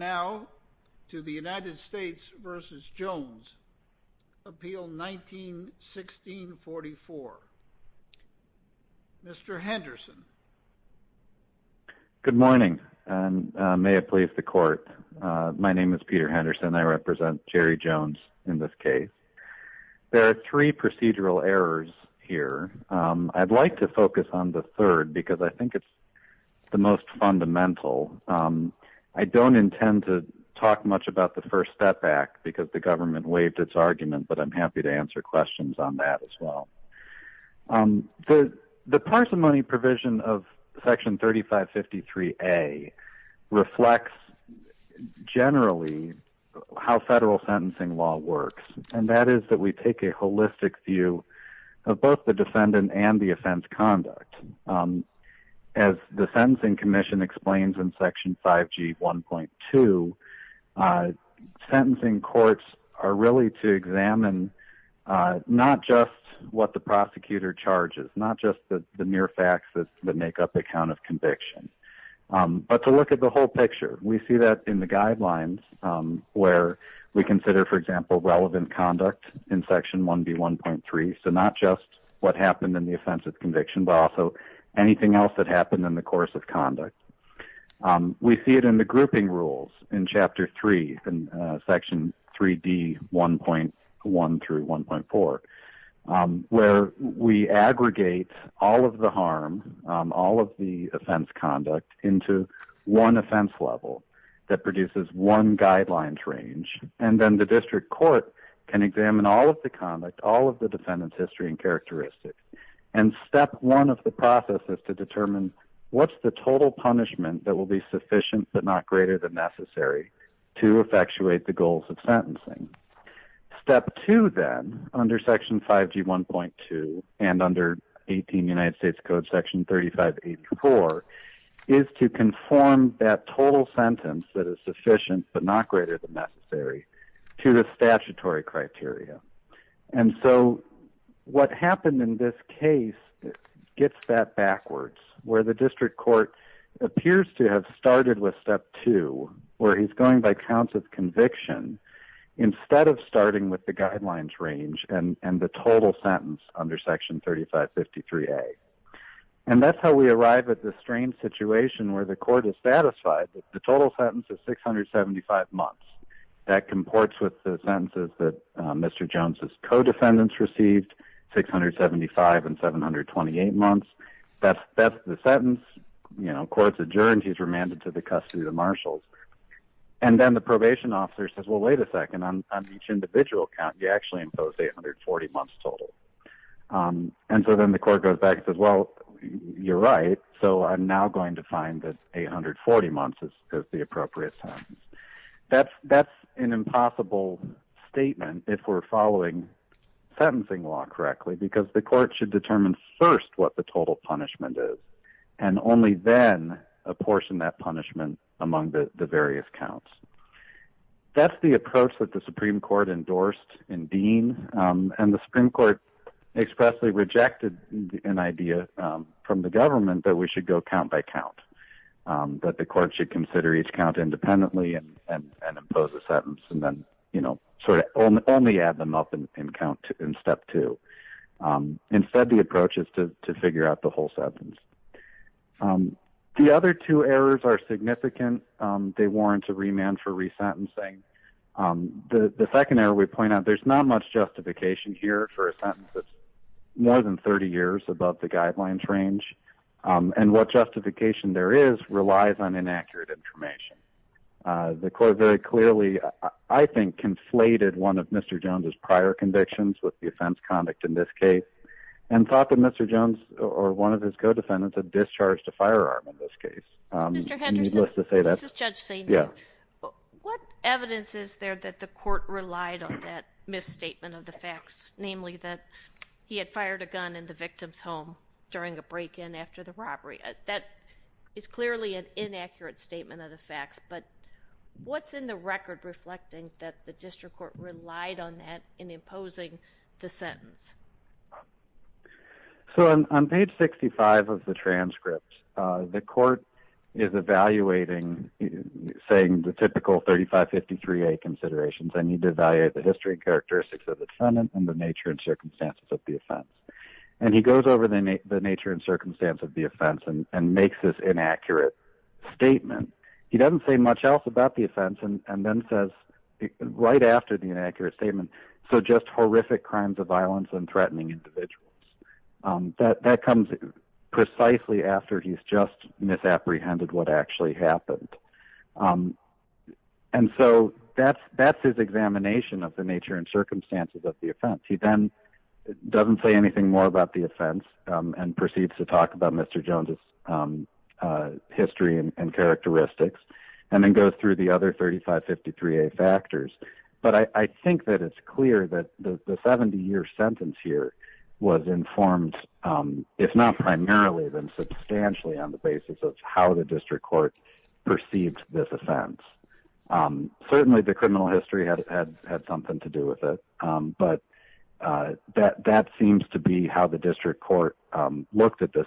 now to the United States v. Jones, Appeal 19-1644. Mr. Henderson. Good morning, and may it please the Court. My name is Peter Henderson. I represent Jerry Jones in this case. There are three procedural errors here. I'd like to focus on the third because I think it's the most fundamental. I don't intend to talk much about the First Step Act because the government waived its argument, but I'm happy to answer questions on that as well. The parsimony provision of Section 3553A reflects generally how federal sentencing law works, and that is that we take a holistic view of both the defendant and the offense conduct. As the Sentencing Commission explains in Section 5G1.2, sentencing courts are really to examine not just what the prosecutor charges, not just the mere facts that make up a count of conviction, but to look at the whole picture. We see that in the guidelines where we consider, for example, relevant conduct in Section 1B1.3, so not just what happened in the offense of conviction, but also anything else that happened in the course of conduct. We see it in the grouping rules in Chapter 3 in Section 3D1.1-1.4, where we aggregate all of the harm, all of the offense conduct, into one offense level that produces one guidelines range, and then the district court can examine all of the conduct, all of the defendant's history and characteristics. Step one of the process is to determine what's the total punishment that will be sufficient but not greater than necessary to effectuate the goals of sentencing. Step two, then, under Section 5G1.2 and under 18 United States Code Section 3584, is to conform that total sentence that is sufficient but not greater than necessary to the statutory criteria. And so what happened in this case gets that backwards, where the district court appears to have started with step two, where he's going by counts of conviction instead of starting with the guidelines range and the total sentence under Section 3553A. And that's how we arrive at the strange situation where the court is satisfied that the total sentence is 675 months. That comports with the sentences that Mr. Jones's co-defendants received, 675 and 728 months. That's the sentence. You know, court's adjourned. He's remanded to the custody of the marshals. And then the probation officer says, well, wait a second. On each individual count, you actually imposed 840 months total. And so then the court goes back and says, well, you're right. So I'm now going to find that 840 months is the appropriate sentence. That's an impossible statement if we're following sentencing law correctly, because the court should determine first what the total punishment is, and only then apportion that punishment among the various counts. That's the approach that the Supreme Court endorsed in Dean. And the Supreme Court expressly rejected an idea from the government that we should go count by count, that the court should consider each count independently and impose a sentence, and then, you know, sort of only add them up in count in step two. Instead, the approach is to figure out the whole sentence. The other two errors are significant. They warrant a remand for resentencing. The second error we point out, there's not much And what justification there is relies on inaccurate information. The court very clearly, I think, conflated one of Mr. Jones's prior convictions with the offense conduct in this case, and thought that Mr. Jones or one of his co-defendants had discharged a firearm in this case. Mr. Henderson, this is Judge Saini. What evidence is there that the court relied on that misstatement of the facts, namely that he had fired a gun in the victim's home during a break-in after the robbery? That is clearly an inaccurate statement of the facts, but what's in the record reflecting that the district court relied on that in imposing the sentence? So, on page 65 of the transcript, the court is evaluating, saying the typical 3553A considerations, I need to evaluate the history and characteristics of the defendant and the nature and circumstances of the offense. And he goes over the nature and circumstance of the offense and makes this inaccurate statement. He doesn't say much else about the offense, and then says, right after the inaccurate statement, so just horrific crimes of violence and threatening individuals. That comes precisely after he's just misapprehended what actually happened. And so, that's his examination of the nature and circumstances of the offense. He then doesn't say anything more about the offense and proceeds to talk about Mr. Jones' history and characteristics, and then goes through the other 3553A factors. But I think that it's clear that the 70-year sentence here was informed, if not primarily, then substantially on the basis of how the district court perceived this offense. Certainly, the criminal history had something to do with it, but that seems to be how the district court looked at this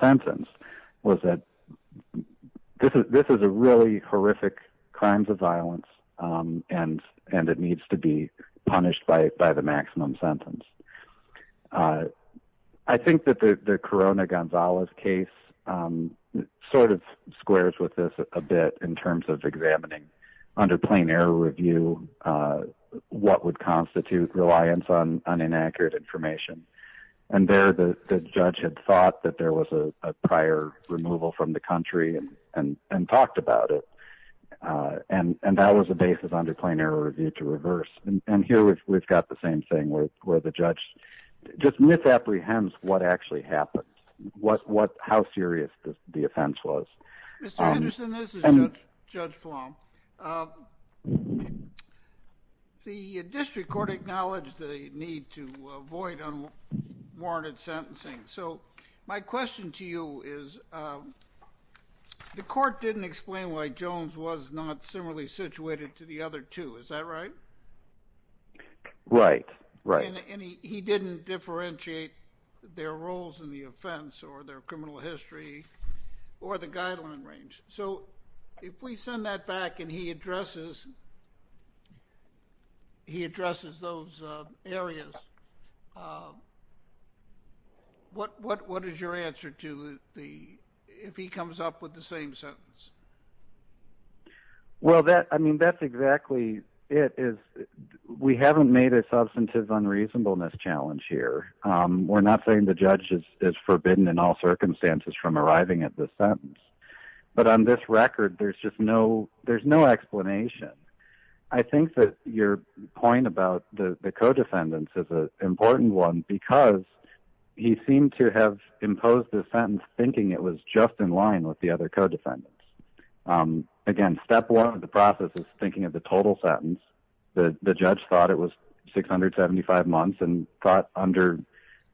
sentence, was that this is a really horrific crime of violence, and it needs to be punished by the maximum sentence. I think that the Corona-Gonzalez case sort of squares with this a bit in terms of examining, under plain error review, what would constitute reliance on inaccurate information. And there, the judge had thought that there was a prior removal from the country and talked about it, and that was the basis under plain error review to reverse. And here, we've got the same thing, where the judge just misapprehends what actually happened, how serious the offense was. Mr. Henderson, this is Judge Flom. The district court acknowledged the need to avoid unwarranted sentencing. So, my question to you is, the court didn't explain why Jones was not similarly punished, right? Right, right. And he didn't differentiate their roles in the offense or their criminal history or the guideline range. So, if we send that back and he addresses those areas, what is your answer to if he comes up with the same sentence? Well, that's exactly it. We haven't made a substantive unreasonableness challenge here. We're not saying the judge is forbidden in all circumstances from arriving at the sentence. But on this record, there's just no explanation. I think that your point about the co-defendants is an important one because he seemed to have imposed the sentence thinking it was just in line with the other co-defendants. Again, step one of the process is thinking of the total sentence. The judge thought it was 675 months and thought under,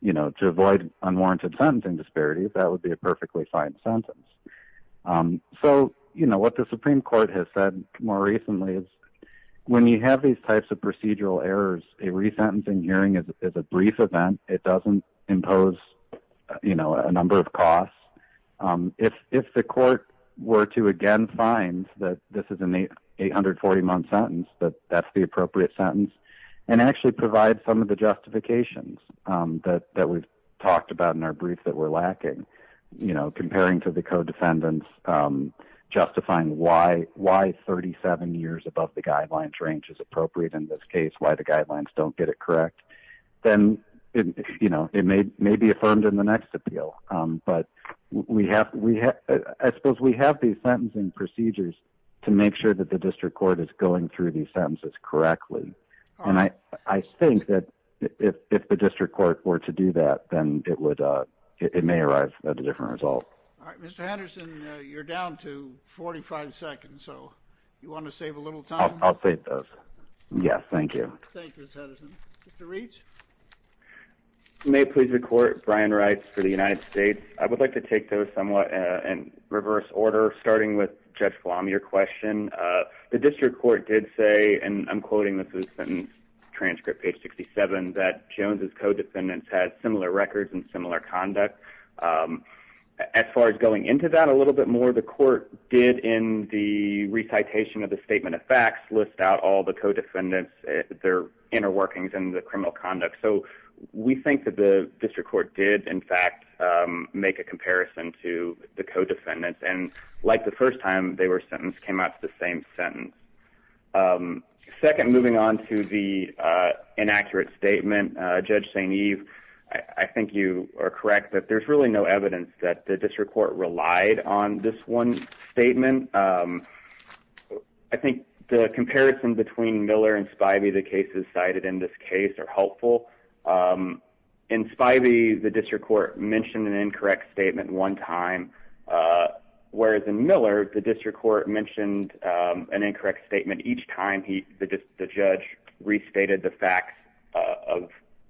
you know, to avoid unwarranted sentencing disparities, that would be a perfectly fine sentence. So, you know, what the Supreme Court has said more recently is when you have these types of procedural errors, a resentencing hearing is a brief event. It doesn't impose, you know, a number of costs. If the court were to again find that this is an 840-month sentence, that that's the appropriate sentence and actually provide some of the justifications that we've talked about in our brief that we're lacking, you know, comparing to the co-defendants, justifying why 37 years above the guidelines range is appropriate in this case, why the guidelines don't get it correct, then, you know, it may be affirmed in the next appeal. But I suppose we have these sentencing procedures to make sure that the district court is going through these sentences correctly. And I think that if the district court were to do that, then it may arrive at a different result. All right, Mr. Henderson, you're down to 45 seconds, so you want to save a little time? I'll save those. Yes, thank you. Thank you, Mr. Henderson. Mr. Reich? You may please record Brian Reitz for the United States. I would like to take those somewhat in reverse order, starting with Judge Flom, your question. The district court did say, and I'm quoting this as a sentence transcript, page 67, that Jones' co-defendants had similar records and similar conduct. As far as going into that a little bit more, the court did in the inner workings in the criminal conduct. So we think that the district court did, in fact, make a comparison to the co-defendants. And like the first time they were sentenced, came out with the same sentence. Second, moving on to the inaccurate statement, Judge St. Eve, I think you are correct that there's really no evidence that the district court relied on this one statement. I think the comparison between Miller and Spivey, the cases cited in this case, are helpful. In Spivey, the district court mentioned an incorrect statement one time, whereas in Miller, the district court mentioned an incorrect statement each time the judge restated the facts of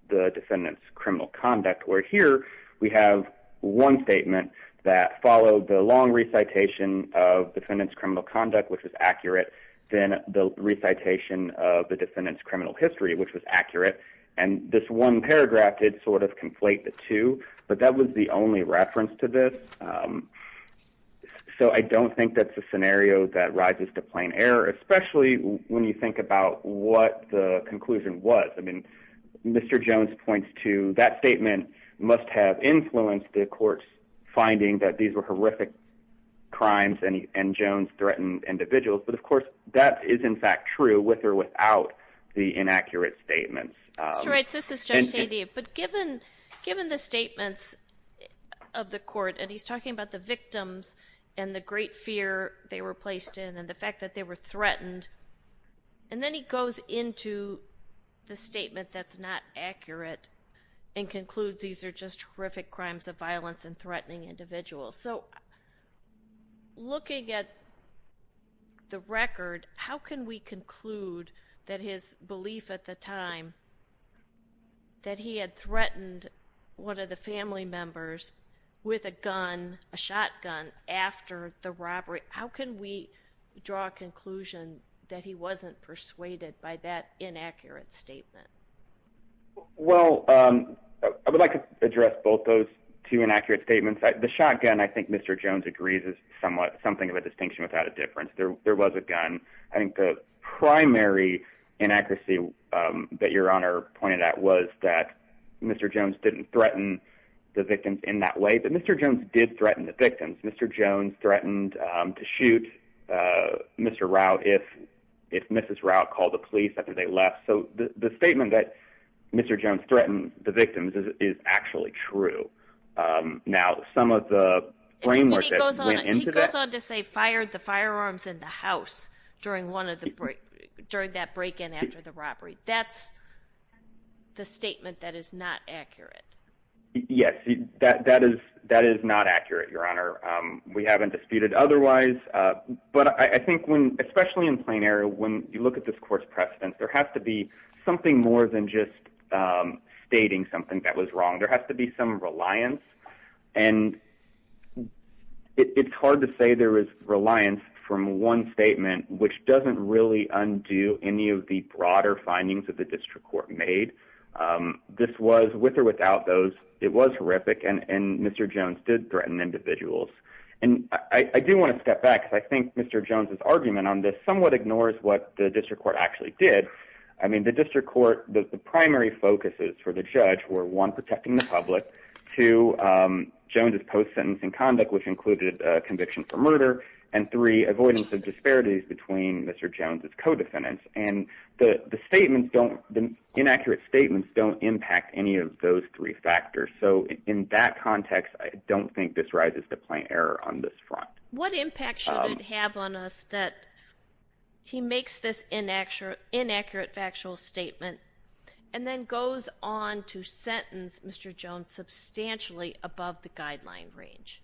the defendant's criminal conduct. Where here, we have one statement that followed the long recitation of defendant's criminal conduct, which was accurate, then the recitation of the defendant's criminal history, which was accurate. And this one paragraph did sort of conflate the two, but that was the only reference to this. So I don't think that's a scenario that rises to plain error, especially when you think about what the conclusion was. I mean, Mr. Jones points to that statement must have influenced the court's reasoning that these were horrific crimes and Jones threatened individuals, but of course, that is in fact true with or without the inaccurate statements. That's right. This is Judge St. Eve. But given the statements of the court, and he's talking about the victims and the great fear they were placed in and the fact that they were threatened, and then he goes into the statement that's not accurate and concludes these are just horrific crimes of violence and threatening individuals. So looking at the record, how can we conclude that his belief at the time that he had threatened one of the family members with a gun, a shotgun, after the robbery, how can we draw a conclusion that he wasn't persuaded by that inaccurate statement? Well, I would like to address both those two inaccurate statements. The shotgun, I think Mr. Jones agrees is somewhat something of a distinction without a difference. There was a gun. I think the primary inaccuracy that your honor pointed out was that Mr. Jones didn't threaten the victims in that way. But Mr. Jones did threaten the victims. Mr. Jones threatened to shoot Mr. Routt if Mrs. Routt called the police after they left. So the statement that Mr. Jones threatened the victims is actually true. Now some of the brain work that went into that. He goes on to say fired the firearms in the house during that break in after the robbery. That's the statement that is not accurate. Yes, that is not accurate, your honor. We haven't disputed otherwise. But I think when especially in plain air, when you look at this court's precedent, there has to be something more than just stating something that was wrong. There has to be some reliance. And it's hard to say there is reliance from one statement, which doesn't really undo any of the broader findings of the district court made. This was with or without those. It was horrific. And Mr. Jones did threaten individuals. And I do want to step back because I think Mr. Jones's argument on this somewhat ignores what the district court actually did. I mean, the district court, the primary focuses for the judge were one protecting the public to Jones's post sentencing conduct, which included conviction for murder and three avoidance of disparities between Mr. Jones's co-defendants. And the statements don't the inaccurate statements don't impact any of those three factors. So in that context, I don't think this rises to plain error on this front. What impact should it have on us that he makes this inaccurate factual statement and then goes on to sentence Mr. Jones substantially above the guideline range?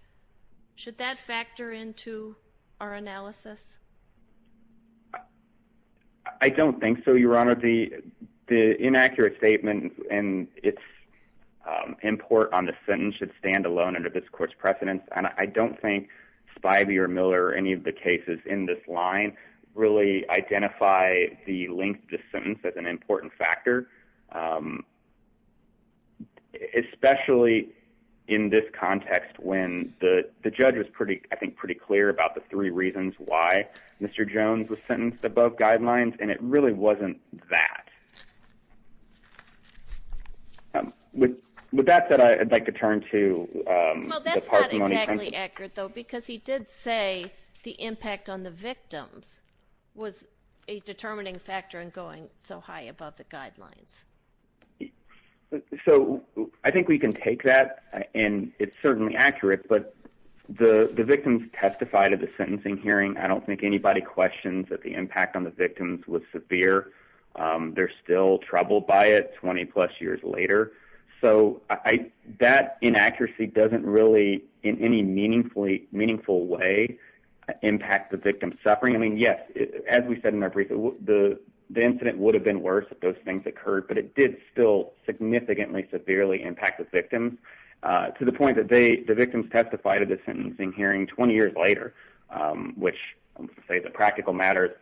Should that factor into our analysis? I don't think so, your honor. The inaccurate statement and its import on the sentence should stand alone under this court's precedence. And I don't think Spivey or Miller or any of the cases in this line really identify the length of the sentence as an important factor. Especially in this context, when the judge was pretty, I think, pretty clear about the three reasons why Mr. Jones was sentenced above guidelines, and it really wasn't that. With that said, I'd like to turn to. Well, that's not exactly accurate, though, because he did say the impact on the victims was a determining factor in going so high above the guidelines. So I think we can take that, and it's certainly accurate, but the victims testified at I don't think anybody questions that the impact on the victims was severe. They're still troubled by it 20 plus years later, so that inaccuracy doesn't really, in any meaningful way, impact the victim's suffering. I mean, yes, as we said in our briefing, the incident would have been worse if those things occurred, but it did still significantly severely impact the victims to the point that the victims testified at the which, say, the practical matter,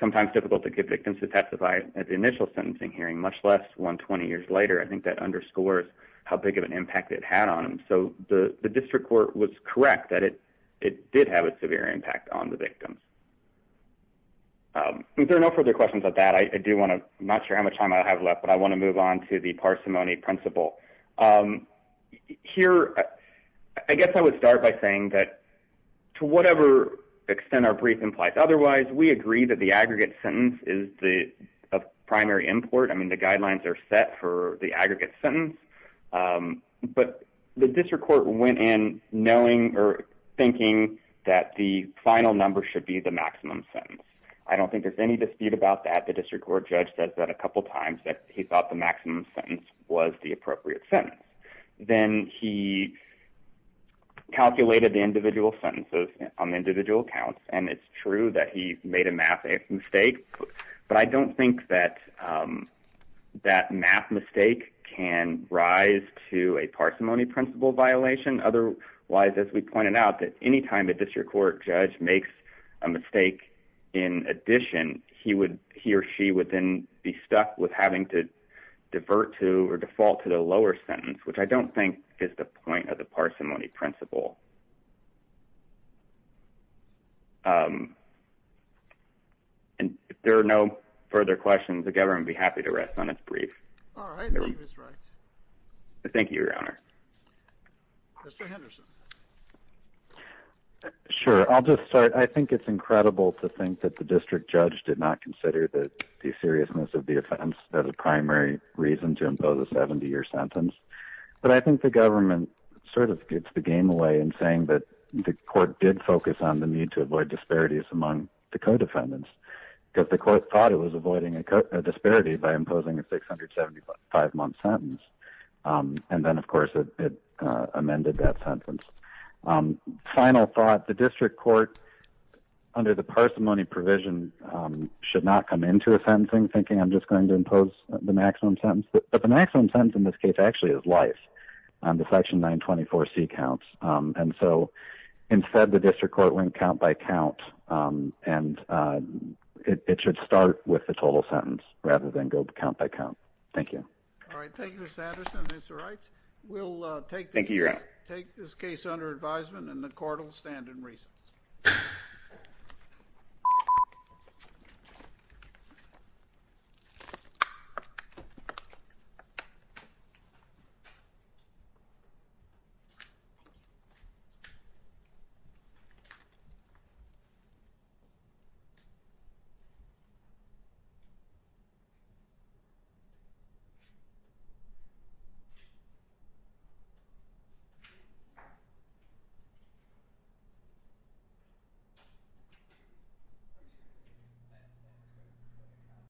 sometimes difficult to get victims to testify at the initial sentencing hearing, much less 120 years later. I think that underscores how big of an impact it had on them. So the district court was correct that it did have a severe impact on the victims. If there are no further questions about that, I do want to, I'm not sure how much time I have left, but I want to move on to the parsimony principle. Here, I guess I would start by saying that to whatever extent our brief implies otherwise, we agree that the aggregate sentence is the primary import. I mean, the guidelines are set for the aggregate sentence, but the district court went in knowing or thinking that the final number should be the maximum sentence. I don't think there's any dispute about that. The district court judge says that a couple times that he calculated the individual sentences on the individual counts, and it's true that he made a math mistake, but I don't think that that math mistake can rise to a parsimony principle violation. Otherwise, as we pointed out, that anytime a district court judge makes a mistake, in addition, he would, he or she would then be stuck with having to divert to or default to the parsimony principle. Um, and if there are no further questions, the government would be happy to rest on its brief. All right. Thank you, Your Honor. Mr. Henderson. Sure. I'll just start. I think it's incredible to think that the district judge did not consider that the seriousness of the offense as a primary reason to impose a 70 year sentence, but I think the government sort of gets the game away and saying that the court did focus on the need to avoid disparities among the co-defendants because the court thought it was avoiding a disparity by imposing a 675 month sentence. Um, and then of course it, it, uh, amended that sentence. Um, final thought, the district court under the parsimony provision, um, should not come into a sentencing thinking I'm just going to impose the maximum sentence, but the maximum sentence in this case actually is life. Um, the section nine 24 C counts. Um, and so instead the district court went count by count. Um, and, uh, it, it should start with the total sentence rather than go count by count. Thank you. All right. Thank you, Mr. Henderson. It's all right. We'll, uh, take, thank you. Take this case under advisement and the court will stand in reasons.